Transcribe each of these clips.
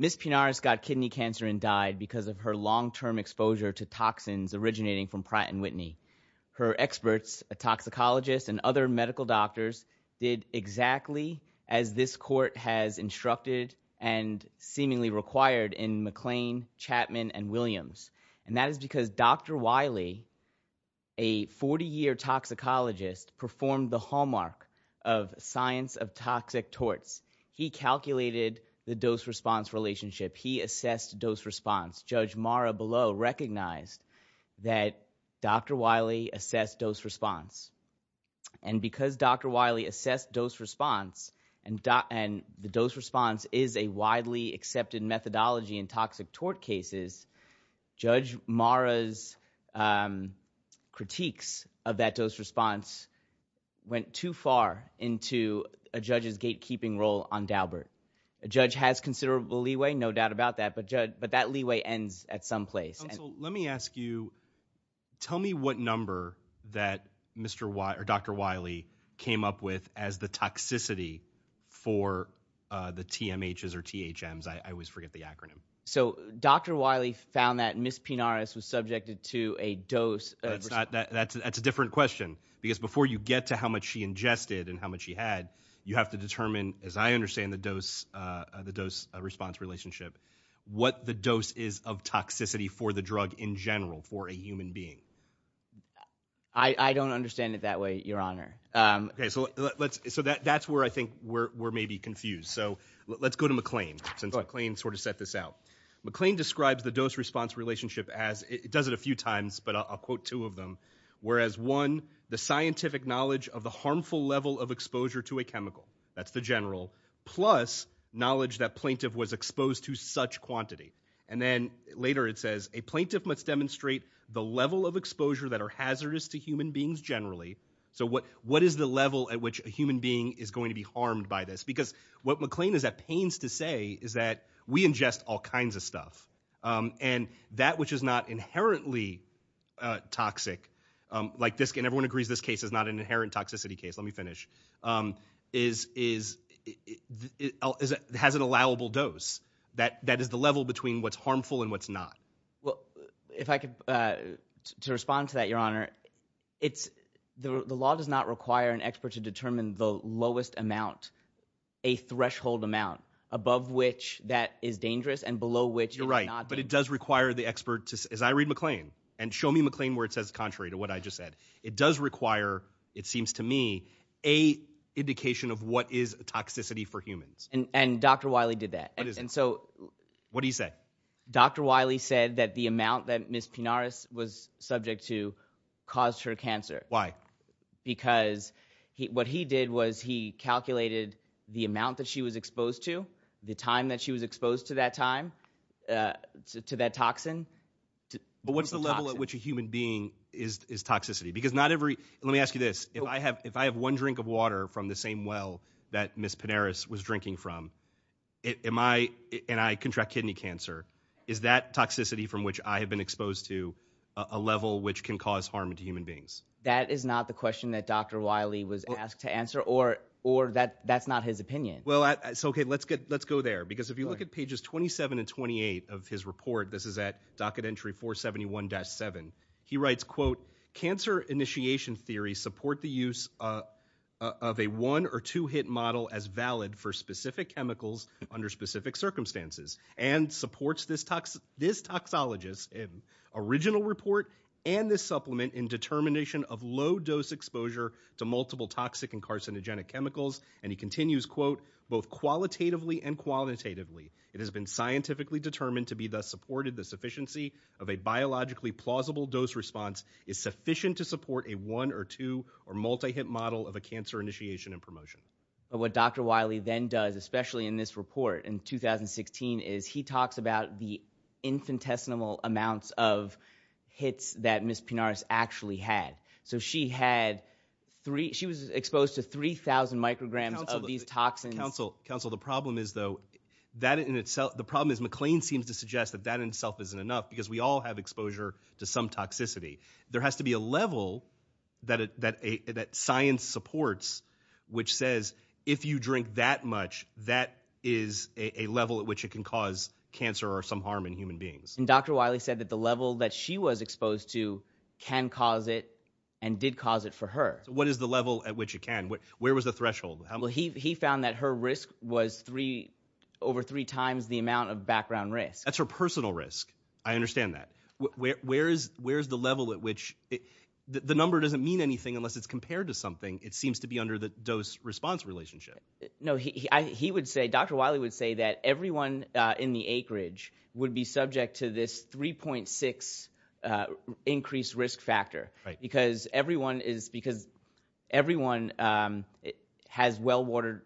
Ms. Pinares got kidney cancer and died because of her long-term exposure to toxins originating from Pratt & Whitney. Her experts, a toxicologist and other medical doctors, did exactly as this court has instructed and seemingly required in McLean, Chapman, and Williams, and that is because Dr. Wiley, a 40-year toxicologist, performed the hallmark of science of toxic torts. He calculated the dose-response relationship. He assessed dose-response. Judge Mara Below recognized that Dr. Wiley assessed dose-response. And because Dr. Wiley assessed dose-response, and the dose-response is a widely accepted methodology in toxic tort cases, Judge Mara's critiques of that dose-response went too far into a judge's gatekeeping role on Daubert. A judge has considerable leeway, no doubt about that, but that leeway ends at some place. Counsel, let me ask you, tell me what number that Dr. Wiley came up with as the toxicity for the TMHs or THMs, I always forget the acronym. So Dr. Wiley found that Ms. Pinares was subjected to a dose- That's a different question, because before you get to how much she ingested and how much she had, you have to determine, as I understand the dose-response relationship, what the dose is of toxicity for the drug in general for a human being. I don't understand it that way, Your Honor. So that's where I think we're maybe confused. So let's go to McLean, since McLean sort of set this out. McLean describes the dose-response relationship as, he does it a few times, but I'll quote two of them, whereas one, the scientific knowledge of the harmful level of exposure to a chemical, that's the general, plus knowledge that plaintiff was exposed to such quantity. And then later it says, a plaintiff must demonstrate the level of exposure that are hazardous to human beings generally. So what is the level at which a human being is going to be harmed by this? Because what McLean is at pains to say is that we ingest all kinds of stuff. And that which is not inherently toxic, and everyone agrees this case is not an inherent toxicity case, let me finish, has an allowable dose. That is the level between what's harmful and what's not. If I could, to respond to that, Your Honor, it's, the law does not require an expert to determine the lowest amount, a threshold amount, above which that is dangerous and below which it is not dangerous. You're right. But it does require the expert to, as I read McLean, and show me McLean where it says contrary to what I just said, it does require, it seems to me, a indication of what is toxicity for humans. And Dr. Wiley did that. What is that? And so. What did he say? Dr. Wiley said that the amount that Ms. Pinaras was subject to caused her cancer. Why? Because what he did was he calculated the amount that she was exposed to, the time that she was exposed to that time, to that toxin. But what's the level at which a human being is toxicity? Because not every, let me ask you this, if I have one drink of water from the same well that Ms. Pinaras was drinking from, am I, and I contract kidney cancer, is that toxicity from which I have been exposed to a level which can cause harm to human beings? That is not the question that Dr. Wiley was asked to answer, or that's not his opinion. Well, so okay, let's go there, because if you look at pages 27 and 28 of his report, this is at docket entry 471-7, he writes, quote, cancer initiation theories support the use of a one or two hit model as valid for specific chemicals under specific circumstances, and supports this toxologist in original report and this supplement in determination of low dose exposure to multiple toxic and carcinogenic chemicals. And he continues, quote, both qualitatively and qualitatively, it has been scientifically determined to be thus supported, the sufficiency of a biologically plausible dose response is sufficient to support a one or two or multi-hit model of a cancer initiation and promotion. What Dr. Wiley then does, especially in this report in 2016, is he talks about the infinitesimal amounts of hits that Ms. Pinaras actually had. So she had three, she was exposed to 3,000 micrograms of these toxins. Counsel, counsel, the problem is though, that in itself, the problem is McLean seems to suggest that that in itself isn't enough, because we all have exposure to some toxicity. There has to be a level that science supports, which says, if you drink that much, that is a level at which it can cause cancer or some harm in human beings. And Dr. Wiley said that the level that she was exposed to can cause it and did cause it for her. So what is the level at which it can? Where was the threshold? Well, he found that her risk was over three times the amount of background risk. That's her personal risk. I understand that. Where's the level at which, the number doesn't mean anything unless it's compared to something. It seems to be under the dose response relationship. No, he would say, Dr. Wiley would say that everyone in the acreage would be subject to this 3.6 increased risk factor, because everyone is, because everyone has well watered,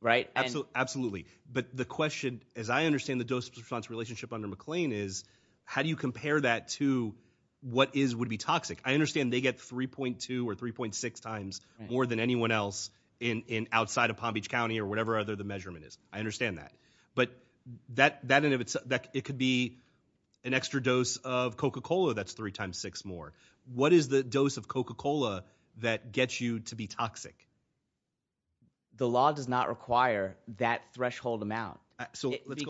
right? Absolutely. But the question, as I understand the dose response relationship under McLean is, how do you compare that to what is, would be toxic? I understand they get 3.2 or 3.6 times more than anyone else in, in outside of Palm Beach County or whatever other the measurement is. I understand that. But that, that, and if it's that it could be an extra dose of Coca-Cola, that's three times six more. What is the dose of Coca-Cola that gets you to be toxic? The law does not require that threshold amount. So let's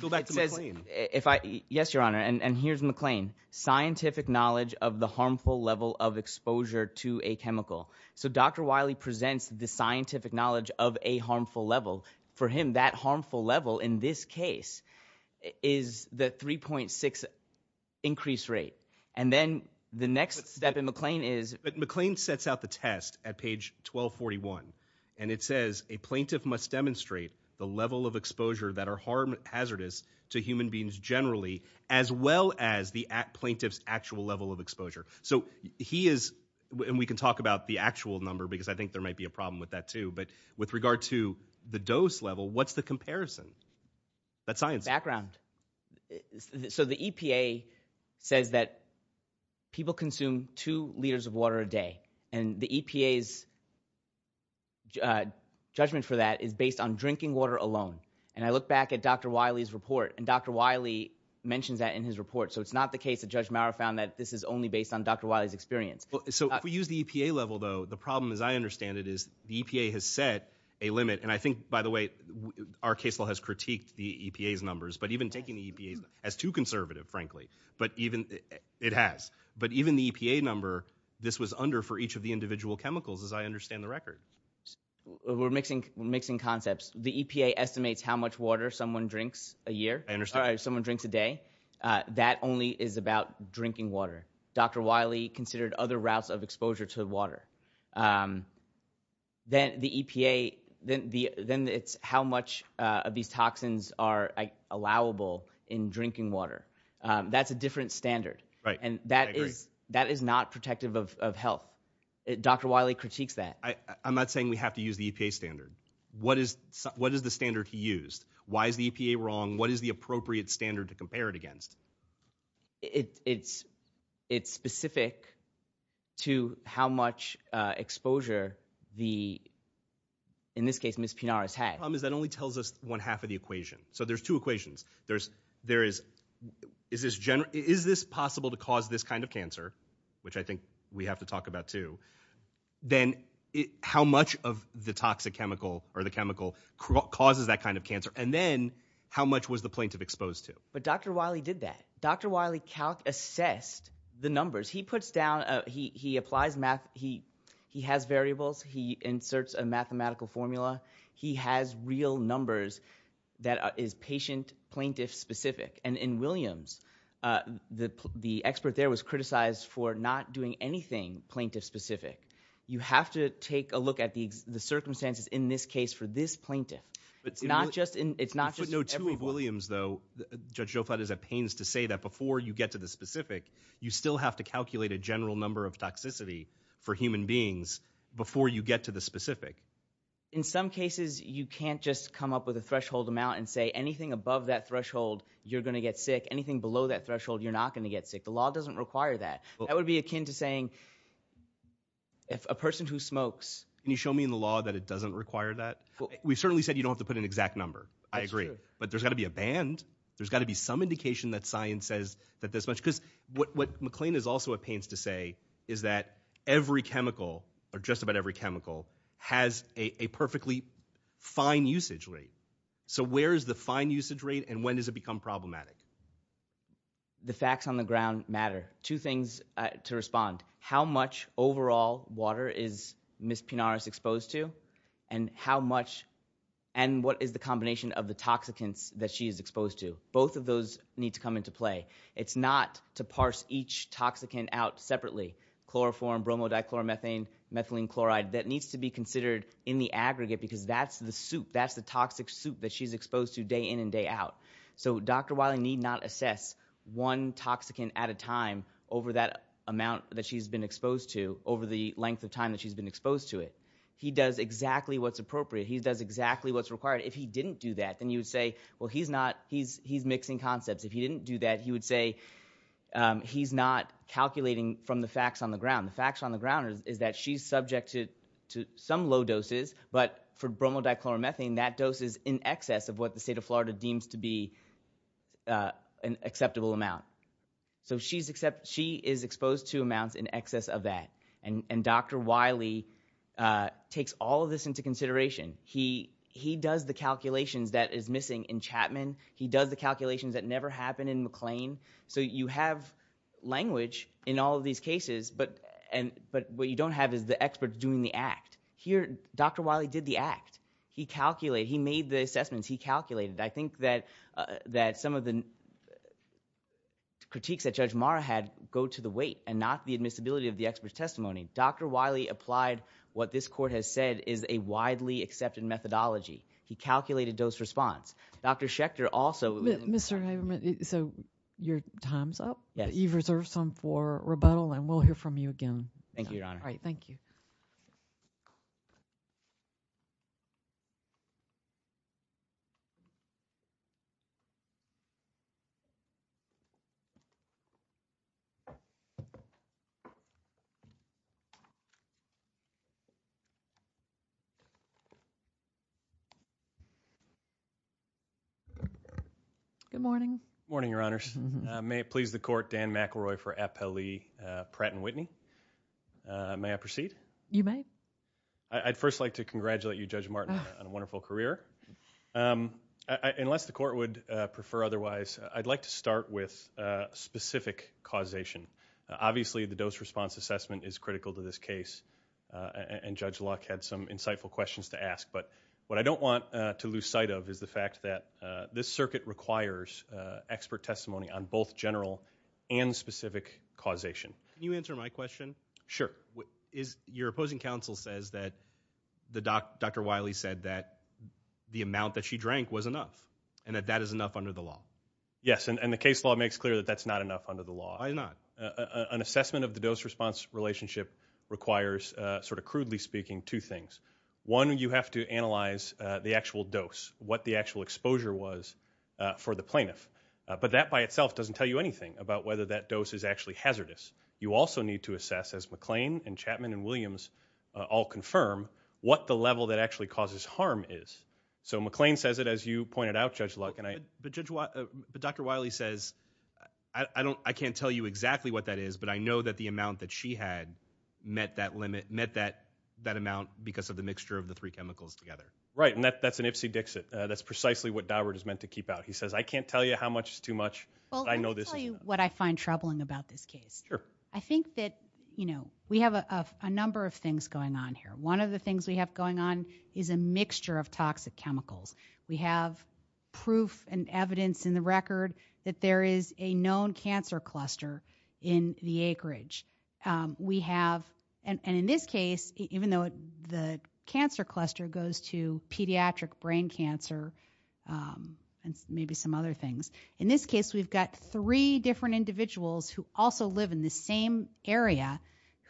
go back to McLean. If I, yes, your honor. And here's McLean scientific knowledge of the harmful level of exposure to a chemical. So Dr. Wiley presents the scientific knowledge of a harmful level for him. That harmful level in this case is the 3.6 increase rate. And then the next step in McLean is, but McLean sets out the test at page 1241 and it says a plaintiff must demonstrate the level of exposure that are harm hazardous to human beings generally, as well as the plaintiff's actual level of exposure. So he is, and we can talk about the actual number because I think there might be a problem with that too. But with regard to the dose level, what's the comparison? That's science. Background. So the EPA says that people consume two liters of water a day. And the EPA's judgment for that is based on drinking water alone. And I look back at Dr. Wiley's report and Dr. Wiley mentions that in his report. So it's not the case that Judge Maurer found that this is only based on Dr. Wiley's experience. So if we use the EPA level though, the problem as I understand it is the EPA has set a limit. And I think by the way, our case law has critiqued the EPA's numbers, but even taking the EPA as too conservative, frankly, but even it has, but even the EPA number, this was under for each of the individual chemicals, as I understand the record. We're mixing concepts. The EPA estimates how much water someone drinks a year, or someone drinks a day. That only is about drinking water. Dr. Wiley considered other routes of exposure to water. Then the EPA, then it's how much of these toxins are allowable in drinking water. That's a different standard. Right, I agree. That is not protective of health. Dr. Wiley critiques that. I'm not saying we have to use the EPA standard. What is the standard he used? Why is the EPA wrong? What is the appropriate standard to compare it against? It's specific to how much exposure the, in this case, Ms. Pinar has had. The problem is that only tells us one half of the equation. So there's two equations. There is, is this possible to cause this kind of cancer, which I think we have to talk about, too. Then how much of the toxic chemical, or the chemical, causes that kind of cancer? And then how much was the plaintiff exposed to? But Dr. Wiley did that. Dr. Wiley assessed the numbers. He puts down, he applies math, he has variables. He inserts a mathematical formula. He has real numbers that is patient, plaintiff specific. And in Williams, the expert there was criticized for not doing anything plaintiff specific. You have to take a look at the circumstances in this case for this plaintiff. It's not just in, it's not just in every- In footnote two of Williams, though, Judge Joflat is at pains to say that before you get to the specific, you still have to calculate a general number of toxicity for human beings before you get to the specific. In some cases, you can't just come up with a threshold amount and say, anything above that threshold, you're going to get sick. Anything below that threshold, you're not going to get sick. The law doesn't require that. That would be akin to saying, if a person who smokes- Can you show me in the law that it doesn't require that? We've certainly said you don't have to put an exact number. I agree. But there's got to be a band. There's got to be some indication that science says that this much, because what McLean is also at pains to say is that every chemical, or just about every chemical, has a perfectly fine usage rate. So where is the fine usage rate, and when does it become problematic? The facts on the ground matter. Two things to respond. How much overall water is Ms. Pinares exposed to, and how much, and what is the combination of the toxicants that she is exposed to? Both of those need to come into play. It's not to parse each toxicant out separately. Chloroform, bromodichloromethane, methylene chloride, that needs to be considered in the aggregate, because that's the soup. That's the toxic soup that she's exposed to day in and day out. So Dr. Wiley need not assess one toxicant at a time over that amount that she's been exposed to, over the length of time that she's been exposed to it. He does exactly what's appropriate. He does exactly what's required. If he didn't do that, then you would say, well, he's mixing concepts. If he didn't do that, he would say, he's not calculating from the facts on the ground. The facts on the ground is that she's subject to some low doses, but for bromodichloromethane, that dose is in excess of what the state of Florida deems to be an acceptable amount. So she is exposed to amounts in excess of that. And Dr. Wiley takes all of this into consideration. He does the calculations that is missing in Chapman. He does the calculations that never happen in McLean. So you have language in all of these cases, but what you don't have is the experts doing the act. Here, Dr. Wiley did the act. He calculated, he made the assessments, he calculated. I think that some of the critiques that Judge Mara had go to the weight and not the admissibility of the expert's testimony. Dr. Wiley applied what this court has said is a widely accepted methodology. He calculated dose response. Dr. Schechter also- Mr. Haberman, so your time's up? You've reserved some for rebuttal, and we'll hear from you again. Thank you, Your Honor. All right, thank you. Good morning. Morning, Your Honors. May it please the court, Dan McElroy for Appellee Pratt and Whitney. May I proceed? You may. I'd first like to congratulate you, Judge Martin, on a wonderful career. Unless the court would prefer otherwise, I'd like to start with specific causation. Obviously, the dose response assessment is critical to this case, and Judge Locke had some insightful questions to ask. But what I don't want to lose sight of is the fact that this circuit requires expert testimony on both general and specific causation. Can you answer my question? Sure. Your opposing counsel says that Dr. Wiley said that the amount that she drank was enough, and that that is enough under the law. Yes, and the case law makes clear that that's not enough under the law. Why not? An assessment of the dose response relationship requires, sort of crudely speaking, two things. One, you have to analyze the actual dose, what the actual exposure was for the plaintiff. But that by itself doesn't tell you anything about whether that dose is actually hazardous. You also need to assess, as McLean and Chapman and Williams all confirm, what the level that actually causes harm is. So McLean says it, as you pointed out, Judge Locke, and I- But Dr. Wiley says, I can't tell you exactly what that is, but I know that the amount that she had met that limit, because of the mixture of the three chemicals together. Right, and that's an ipsy-dixit. That's precisely what Daubert is meant to keep out. He says, I can't tell you how much is too much. Well, let me tell you what I find troubling about this case. Sure. I think that we have a number of things going on here. One of the things we have going on is a mixture of toxic chemicals. We have proof and evidence in the record that there is a known cancer cluster in the acreage. We have, and in this case, even though the cancer cluster goes to pediatric brain cancer and maybe some other things. In this case, we've got three different individuals who also live in the same area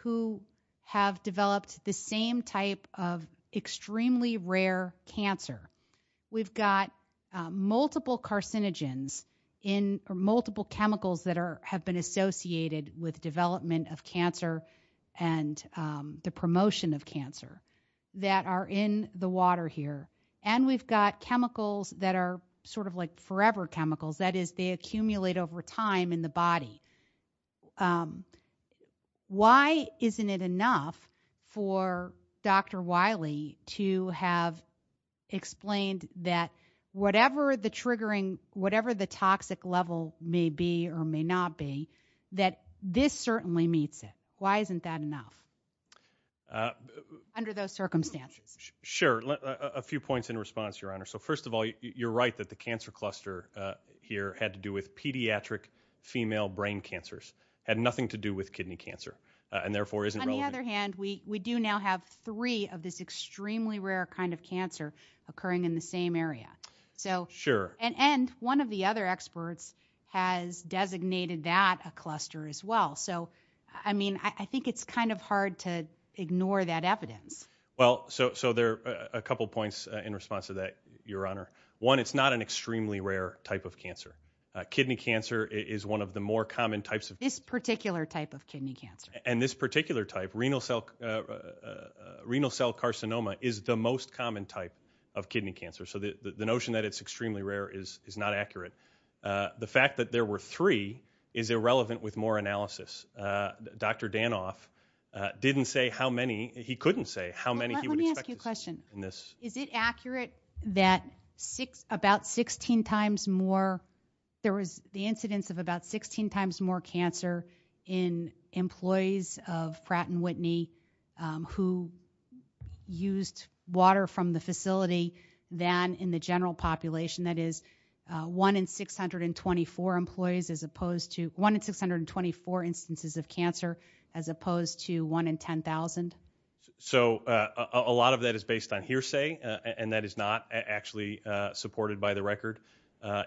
who have developed the same type of extremely rare cancer. We've got multiple carcinogens in, or of cancer and the promotion of cancer that are in the water here. And we've got chemicals that are sort of like forever chemicals. That is, they accumulate over time in the body. Why isn't it enough for Dr. Wiley to have explained that whatever the triggering, whatever the toxic level may be or may not be, that this certainly meets it? Why isn't that enough? Under those circumstances. Sure, a few points in response, Your Honor. So first of all, you're right that the cancer cluster here had to do with pediatric female brain cancers, had nothing to do with kidney cancer, and therefore isn't relevant. On the other hand, we do now have three of this extremely rare kind of cancer occurring in the same area. So- Sure. And one of the other experts has designated that a cluster as well. So, I mean, I think it's kind of hard to ignore that evidence. Well, so there are a couple points in response to that, Your Honor. One, it's not an extremely rare type of cancer. Kidney cancer is one of the more common types of- This particular type of kidney cancer. And this particular type, renal cell carcinoma is the most common type of kidney cancer. So the notion that it's extremely rare is not accurate. The fact that there were three is irrelevant with more analysis. Dr. Danoff didn't say how many, he couldn't say how many he would expect- Let me ask you a question. In this- Is it accurate that about 16 times more, there was the incidence of about 16 times more cancer in employees of Pratt and Dunn in the general population, that is 1 in 624 employees as opposed to- 1 in 624 instances of cancer as opposed to 1 in 10,000? So a lot of that is based on hearsay, and that is not actually supported by the record,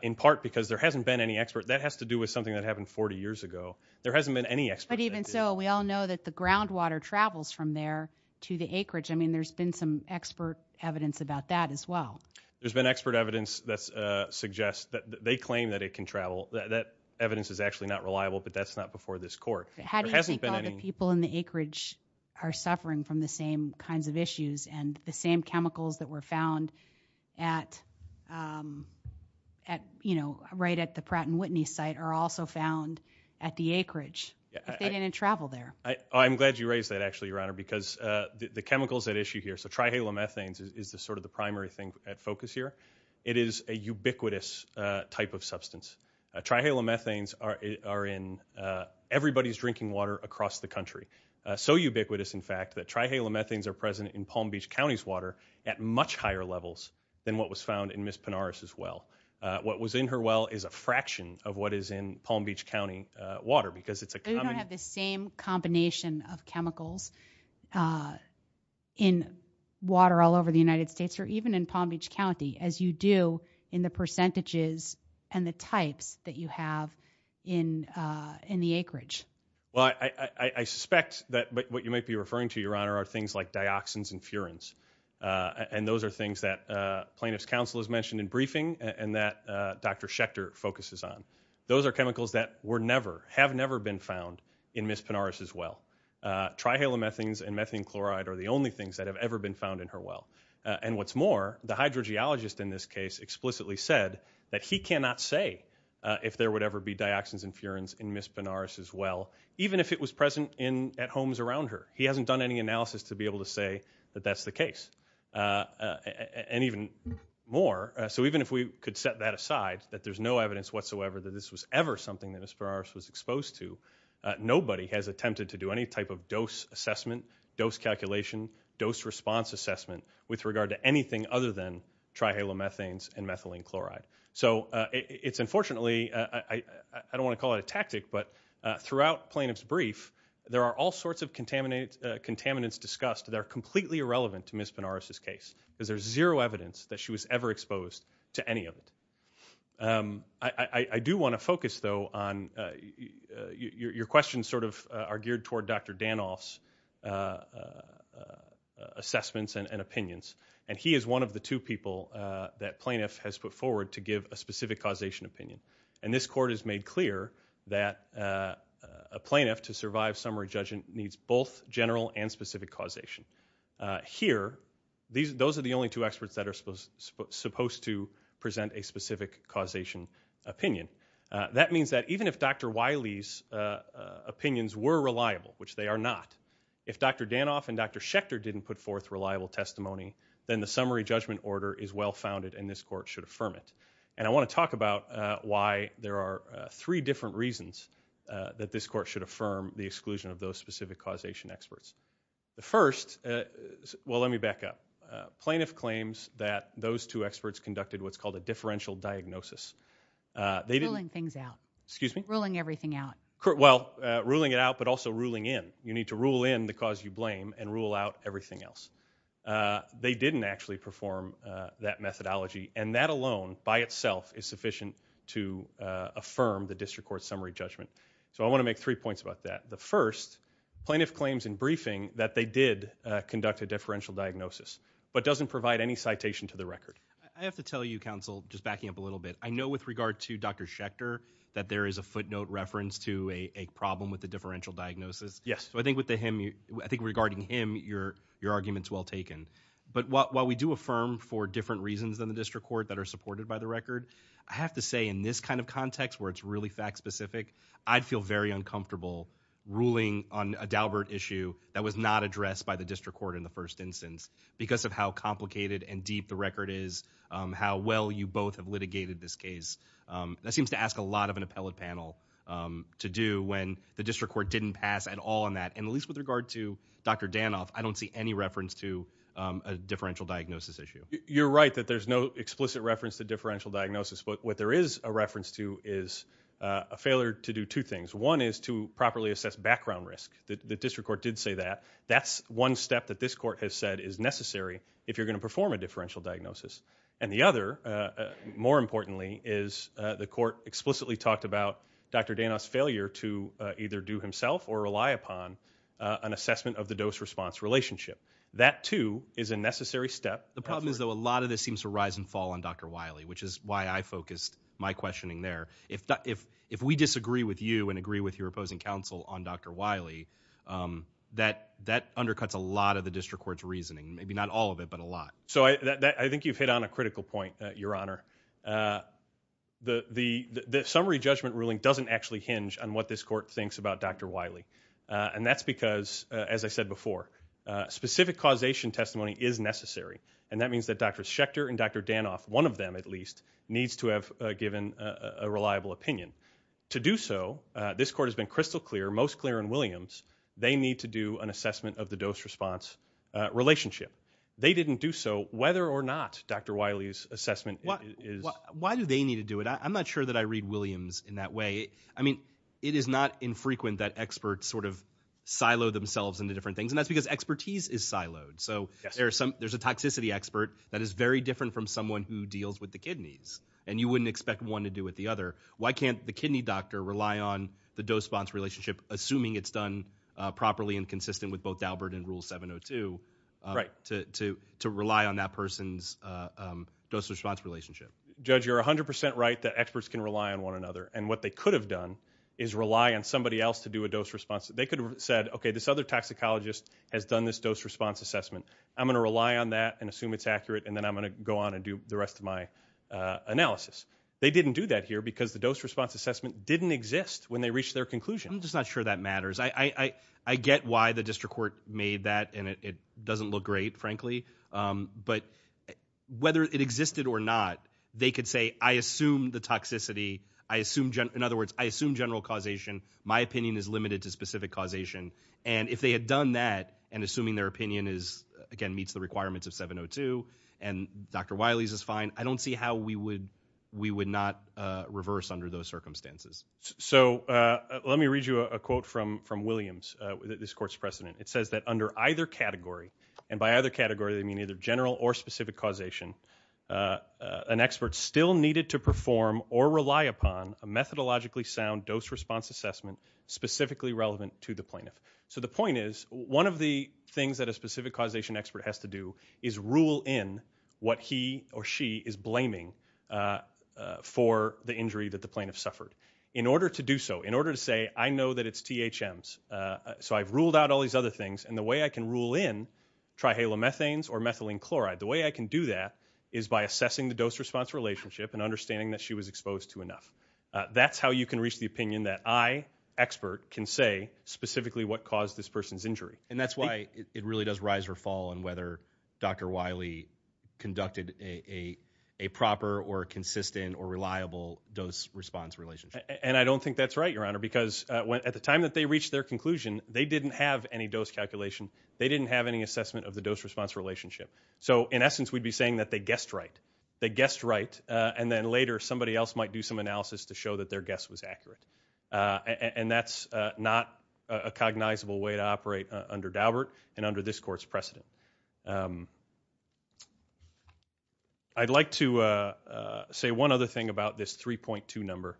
in part because there hasn't been any expert, that has to do with something that happened 40 years ago. There hasn't been any expert- But even so, we all know that the groundwater travels from there to the acreage. I mean, there's been some expert evidence about that as well. There's been expert evidence that suggests that they claim that it can travel. That evidence is actually not reliable, but that's not before this court. There hasn't been any- How do you think all the people in the acreage are suffering from the same kinds of issues, and the same chemicals that were found at, right at the Pratt and Whitney site, are also found at the acreage, if they didn't travel there? I'm glad you raised that, actually, Your Honor, because the chemicals at issue here, so trihalomethanes is sort of the primary thing at focus here. It is a ubiquitous type of substance. Trihalomethanes are in everybody's drinking water across the country. So ubiquitous, in fact, that trihalomethanes are present in Palm Beach County's water at much higher levels than what was found in Ms. Penares' well. What was in her well is a fraction of what is in Palm Beach County water, because it's a common- Nation of chemicals in water all over the United States, or even in Palm Beach County, as you do in the percentages and the types that you have in the acreage. Well, I suspect that what you might be referring to, Your Honor, are things like dioxins and furans. And those are things that plaintiff's counsel has mentioned in briefing, and that Dr. Schechter focuses on. Those are chemicals that were never, have never been found in Ms. Penares' well. Trihalomethanes and methane chloride are the only things that have ever been found in her well. And what's more, the hydrogeologist in this case explicitly said that he cannot say if there would ever be dioxins and furans in Ms. Penares' well, even if it was present at homes around her. He hasn't done any analysis to be able to say that that's the case, and even more. So even if we could set that aside, that there's no evidence whatsoever that this was ever something that Ms. Penares was exposed to, nobody has attempted to do any type of dose assessment, dose calculation, dose response assessment with regard to anything other than trihalomethanes and methylene chloride. So it's unfortunately, I don't want to call it a tactic, but throughout plaintiff's brief, there are all sorts of contaminants discussed that are completely irrelevant to Ms. Penares' case. Cuz there's zero evidence that she was ever exposed to any of it. I do want to focus though on, your questions sort of are geared toward Dr. Danoff's assessments and opinions. And he is one of the two people that plaintiff has put forward to give a specific causation opinion. And this court has made clear that a plaintiff to survive summary judgment needs both general and specific causation. Here, those are the only two experts that are supposed to present a specific causation opinion. That means that even if Dr. Wiley's opinions were reliable, which they are not. If Dr. Danoff and Dr. Schechter didn't put forth reliable testimony, then the summary judgment order is well founded and this court should affirm it. And I want to talk about why there are three different reasons that this court should affirm the exclusion of those specific causation experts. The first, well let me back up. Plaintiff claims that those two experts conducted what's called a differential diagnosis. They didn't- Ruling things out. Excuse me? Ruling everything out. Well, ruling it out but also ruling in. You need to rule in the cause you blame and rule out everything else. They didn't actually perform that methodology and that alone, by itself, is sufficient to affirm the district court summary judgment. So I want to make three points about that. The first, plaintiff claims in briefing that they did conduct a differential diagnosis, but doesn't provide any citation to the record. I have to tell you, counsel, just backing up a little bit. I know with regard to Dr. Schechter, that there is a footnote reference to a problem with the differential diagnosis. Yes. So I think with the him, I think regarding him, your argument's well taken. But while we do affirm for different reasons than the district court that are supported by the record, I have to say in this kind of context where it's really fact specific, I'd feel very uncomfortable ruling on a Daubert issue that was not addressed by the district court in the first instance. Because of how complicated and deep the record is, how well you both have litigated this case. That seems to ask a lot of an appellate panel to do when the district court didn't pass at all on that. And at least with regard to Dr. Danoff, I don't see any reference to a differential diagnosis issue. You're right that there's no explicit reference to differential diagnosis. But what there is a reference to is a failure to do two things. One is to properly assess background risk. The district court did say that. That's one step that this court has said is necessary if you're gonna perform a differential diagnosis. And the other, more importantly, is the court explicitly talked about Dr. Danoff's failure to either do himself or rely upon an assessment of the dose response relationship. That too is a necessary step. The problem is though a lot of this seems to rise and fall on Dr. My questioning there. If we disagree with you and agree with your opposing counsel on Dr. Wiley, that undercuts a lot of the district court's reasoning. Maybe not all of it, but a lot. So I think you've hit on a critical point, Your Honor. The summary judgment ruling doesn't actually hinge on what this court thinks about Dr. Wiley. And that's because, as I said before, specific causation testimony is necessary. And that means that Dr. Schechter and Dr. Danoff, one of them at least, needs to have given a reliable opinion. To do so, this court has been crystal clear, most clear in Williams, they need to do an assessment of the dose response relationship. They didn't do so whether or not Dr. Wiley's assessment is- Why do they need to do it? I'm not sure that I read Williams in that way. I mean, it is not infrequent that experts sort of silo themselves into different things. And that's because expertise is siloed. So there's a toxicity expert that is very different from someone who deals with the kidneys, and you wouldn't expect one to do with the other. Why can't the kidney doctor rely on the dose-response relationship, assuming it's done properly and consistent with both Daubert and Rule 702, to rely on that person's dose-response relationship? Judge, you're 100% right that experts can rely on one another. And what they could have done is rely on somebody else to do a dose response. They could have said, okay, this other toxicologist has done this dose-response assessment. I'm gonna rely on that and assume it's accurate, and then I'm gonna go on and do the rest of my analysis. They didn't do that here because the dose-response assessment didn't exist when they reached their conclusion. I'm just not sure that matters. I get why the district court made that, and it doesn't look great, frankly. But whether it existed or not, they could say, I assume the toxicity. In other words, I assume general causation. My opinion is limited to specific causation. And if they had done that, and assuming their opinion is, again, Dr. Wiley's is fine, I don't see how we would not reverse under those circumstances. So let me read you a quote from Williams, this court's precedent. It says that under either category, and by either category, they mean either general or specific causation, an expert still needed to perform or rely upon a methodologically sound dose-response assessment specifically relevant to the plaintiff. So the point is, one of the things that a specific causation expert has to do is rule in what he or she is blaming for the injury that the plaintiff suffered. In order to do so, in order to say, I know that it's THMs, so I've ruled out all these other things, and the way I can rule in trihalomethanes or methylene chloride. The way I can do that is by assessing the dose-response relationship and understanding that she was exposed to enough. That's how you can reach the opinion that I, expert, can say specifically what caused this person's injury. And that's why it really does rise or fall on whether Dr. Wiley conducted a proper or consistent or reliable dose-response relationship. And I don't think that's right, Your Honor, because at the time that they reached their conclusion, they didn't have any dose calculation. They didn't have any assessment of the dose-response relationship. So in essence, we'd be saying that they guessed right. They guessed right, and then later, somebody else might do some analysis to show that their guess was accurate. And that's not a cognizable way to operate under Daubert and under this court's precedent. I'd like to say one other thing about this 3.2 number.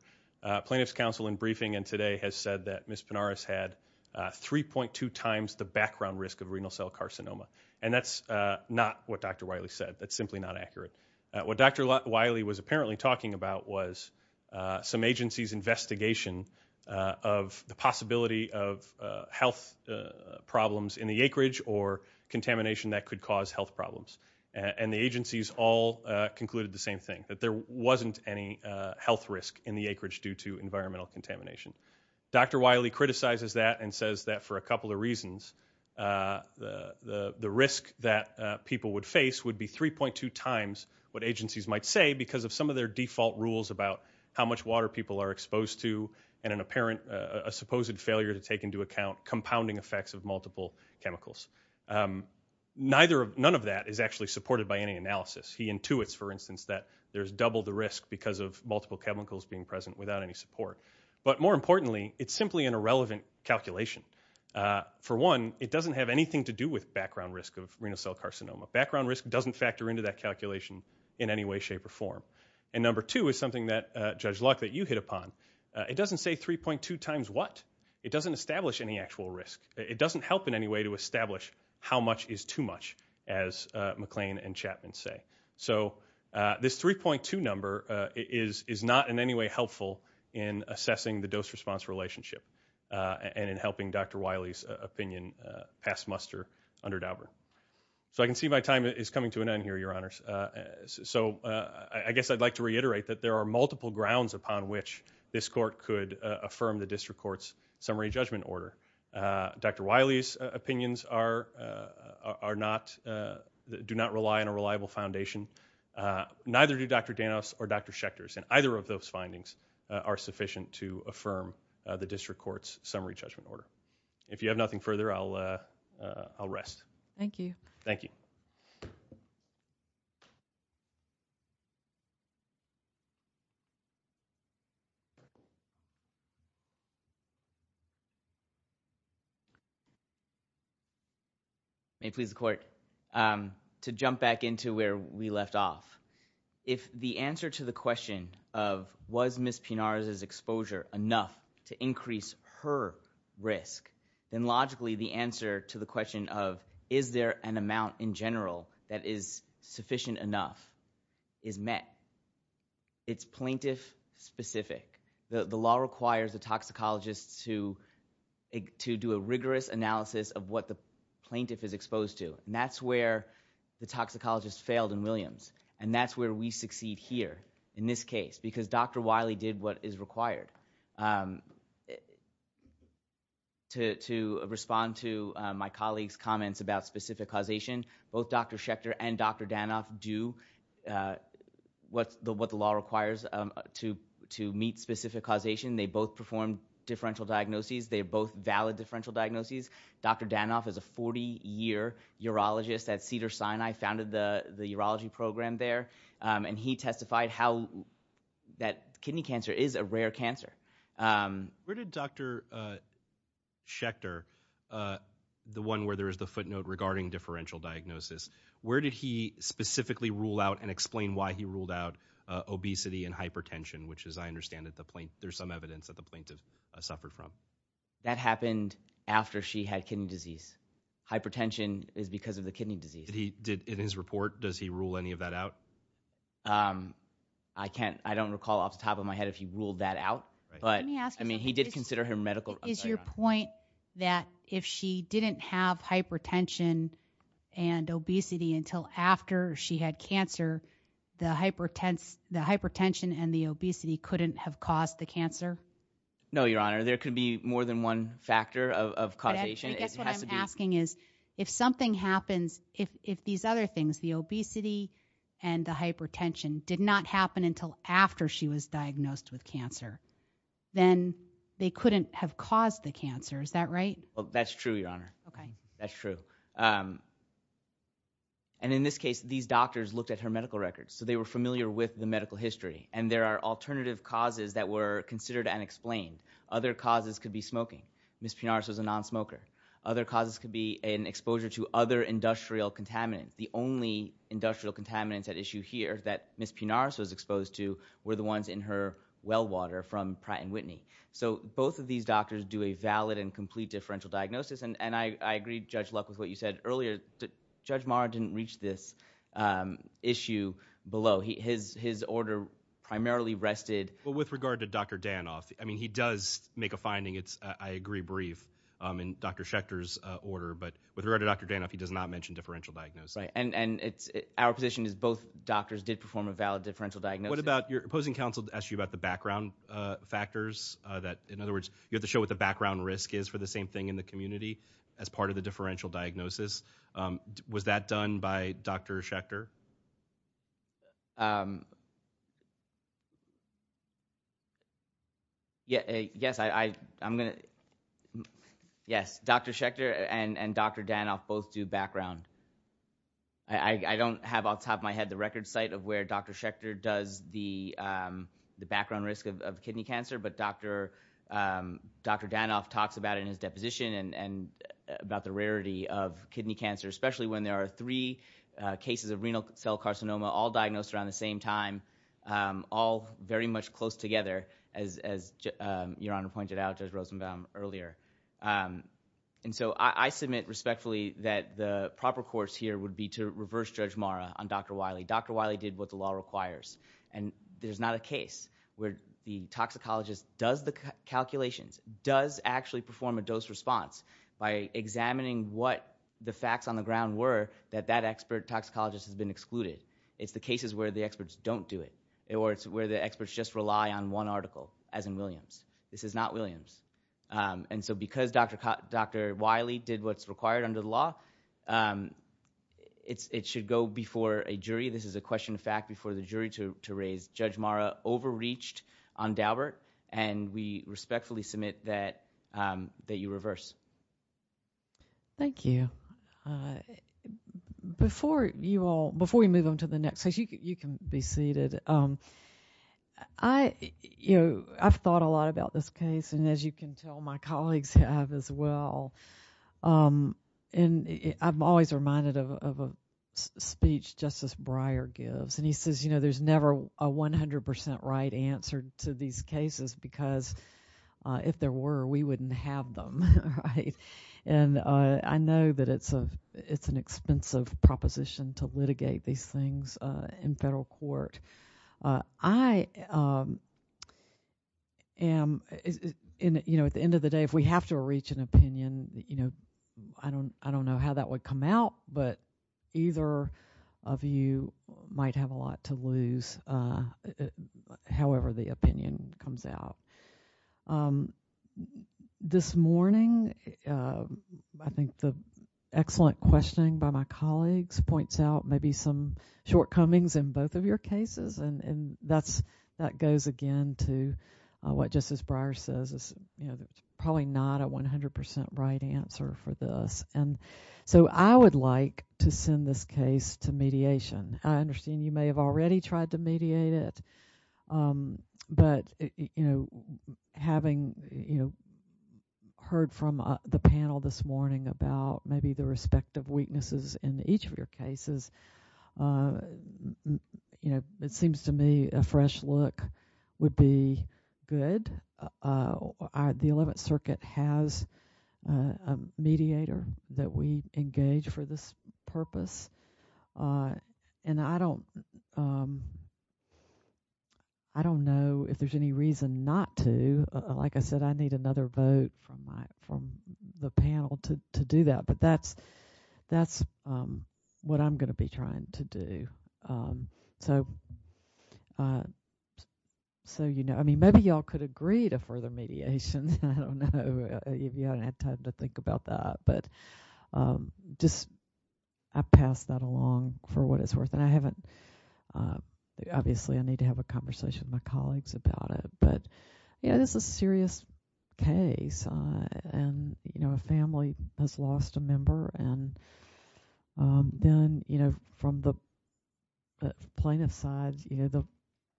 Plaintiff's counsel in briefing in today has said that Ms. Penares had 3.2 times the background risk of renal cell carcinoma. And that's not what Dr. Wiley said. That's simply not accurate. What Dr. Wiley was apparently talking about was some agency's investigation of the possibility of health problems in the acreage or contamination that could cause health problems. And the agencies all concluded the same thing, that there wasn't any health risk in the acreage due to environmental contamination. Dr. Wiley criticizes that and says that for a couple of reasons, the risk that people would face would be 3.2 times what agencies might say because of some of their default rules about how much water people are exposed to and an apparent, a supposed failure to take into account compounding effects of multiple chemicals. None of that is actually supported by any analysis. He intuits, for instance, that there's double the risk because of multiple chemicals being present without any support. But more importantly, it's simply an irrelevant calculation. For one, it doesn't have anything to do with background risk of renal cell carcinoma. Background risk doesn't factor into that calculation in any way, shape, or form. And number two is something that, Judge Luck, that you hit upon. It doesn't say 3.2 times what. It doesn't establish any actual risk. It doesn't help in any way to establish how much is too much, as McLean and Chapman say. So this 3.2 number is not in any way helpful in assessing the dose response relationship and in helping Dr. Wiley's opinion pass muster under Dauber. So I can see my time is coming to an end here, your honors. So I guess I'd like to reiterate that there are multiple grounds upon which this court could affirm the district court's summary judgment order. Dr. Wiley's opinions are not, do not rely on a reliable foundation. Neither do Dr. Danos or Dr. Schechter's. And either of those findings are sufficient to affirm the district court's summary judgment order. If you have nothing further, I'll rest. Thank you. Thank you. May it please the court, to jump back into where we left off. If the answer to the question of, was Ms. Pinares' exposure enough to increase her risk? Then logically the answer to the question of, is there an amount in general that is sufficient enough, is met. It's plaintiff specific. The law requires a toxicologist to do a rigorous analysis of what the plaintiff is exposed to, and that's where the toxicologist failed in Williams. And that's where we succeed here, in this case, because Dr. Wiley did what is required. To respond to my colleague's comments about specific causation, both Dr. Schechter and Dr. Danoff do what the law requires to meet specific causation. They both performed differential diagnoses. They're both valid differential diagnoses. Dr. Danoff is a 40 year urologist at Cedars-Sinai, founded the urology program there. And he testified how that kidney cancer is a rare cancer. Where did Dr. Schechter, the one where there is the footnote regarding differential diagnosis. Where did he specifically rule out and explain why he ruled out obesity and hypertension, which as I understand it, there's some evidence that the plaintiff suffered from. That happened after she had kidney disease. Hypertension is because of the kidney disease. Did he, in his report, does he rule any of that out? I can't, I don't recall off the top of my head if he ruled that out. But, I mean, he did consider her medical. Is your point that if she didn't have hypertension and obesity until after she had cancer, the hypertension and the obesity couldn't have caused the cancer? No, your honor, there could be more than one factor of causation. I guess what I'm asking is, if something happens, if these other things, the obesity and the hypertension, did not happen until after she was diagnosed with cancer, then they couldn't have caused the cancer, is that right? Well, that's true, your honor. Okay. That's true. And in this case, these doctors looked at her medical records, so they were familiar with the medical history. And there are alternative causes that were considered unexplained. Other causes could be smoking. Ms. Pinaros was a non-smoker. Other causes could be an exposure to other industrial contaminants. The only industrial contaminants at issue here that Ms. Pinaros was exposed to were the ones in her well water from Pratt & Whitney. So both of these doctors do a valid and complete differential diagnosis. And I agree, Judge Luck, with what you said earlier. Judge Maher didn't reach this issue below. His order primarily rested- Well, with regard to Dr. Danoff, I mean, he does make a finding. It's, I agree, brief in Dr. Schechter's order. But with regard to Dr. Danoff, he does not mention differential diagnosis. Right, and our position is both doctors did perform a valid differential diagnosis. What about, your opposing counsel asked you about the background factors that, in other words, you have to show what the background risk is for the same thing in the community as part of the differential diagnosis. Was that done by Dr. Schechter? Yes, I'm gonna, yes, Dr. Schechter and Dr. Danoff both do background. I don't have off the top of my head the record site of where Dr. Schechter does the background risk of kidney cancer. But Dr. Danoff talks about it in his deposition and about the rarity of kidney cancer, especially when there are three cases of renal cell carcinoma all diagnosed around the same time. All very much close together, as Your Honor pointed out, Judge Rosenbaum earlier. And so I submit respectfully that the proper course here would be to reverse Judge Mara on Dr. Wiley. Dr. Wiley did what the law requires. And there's not a case where the toxicologist does the calculations, does actually perform a dose response by examining what the facts on the ground were that that expert toxicologist has been excluded. It's the cases where the experts don't do it, or it's where the experts just rely on one article, as in Williams. This is not Williams. And so because Dr. Wiley did what's required under the law, it should go before a jury. This is a question of fact before the jury to raise. Judge Mara overreached on Daubert, and we respectfully submit that you reverse. Thank you. Before you all, before we move on to the next case, you can be seated. I've thought a lot about this case, and as you can tell, my colleagues have as well. And I'm always reminded of a speech Justice Breyer gives. And he says, there's never a 100% right answer to these cases, because if there were, we wouldn't have them, right? And I know that it's an expensive proposition to I am, at the end of the day, if we have to reach an opinion, I don't know how that would come out, but either of you might have a lot to lose, however the opinion comes out. This morning, I think the excellent questioning by my colleagues points out maybe some shortcomings in both of your cases. And that goes again to what Justice Breyer says, it's probably not a 100% right answer for this. And so I would like to send this case to mediation. I understand you may have already tried to mediate it. But having heard from the panel this morning about maybe the respective weaknesses in each of your cases, it seems to me a fresh look would be good. The 11th Circuit has a mediator that we engage for this purpose. And I don't know if there's any reason not to. Like I said, I need another vote from the panel to do that. But that's what I'm going to be trying to do. So maybe you all could agree to further mediation. I don't know if you haven't had time to think about that. But I've passed that along for what it's worth. And obviously, I need to have a conversation with my colleagues about it. But this is a serious case. And a family has lost a member. And then from the plaintiff's side,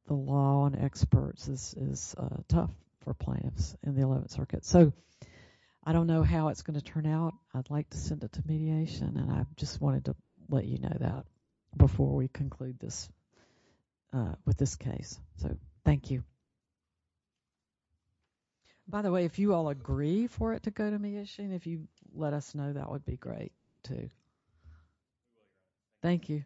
the law and experts is tough for plaintiffs in the 11th Circuit. So I don't know how it's going to turn out. I'd like to send it to mediation. And I just wanted to let you know that before we conclude with this case. So thank you. By the way, if you all agree for it to go to mediation, if you let us know, that would be great, too. Thank you.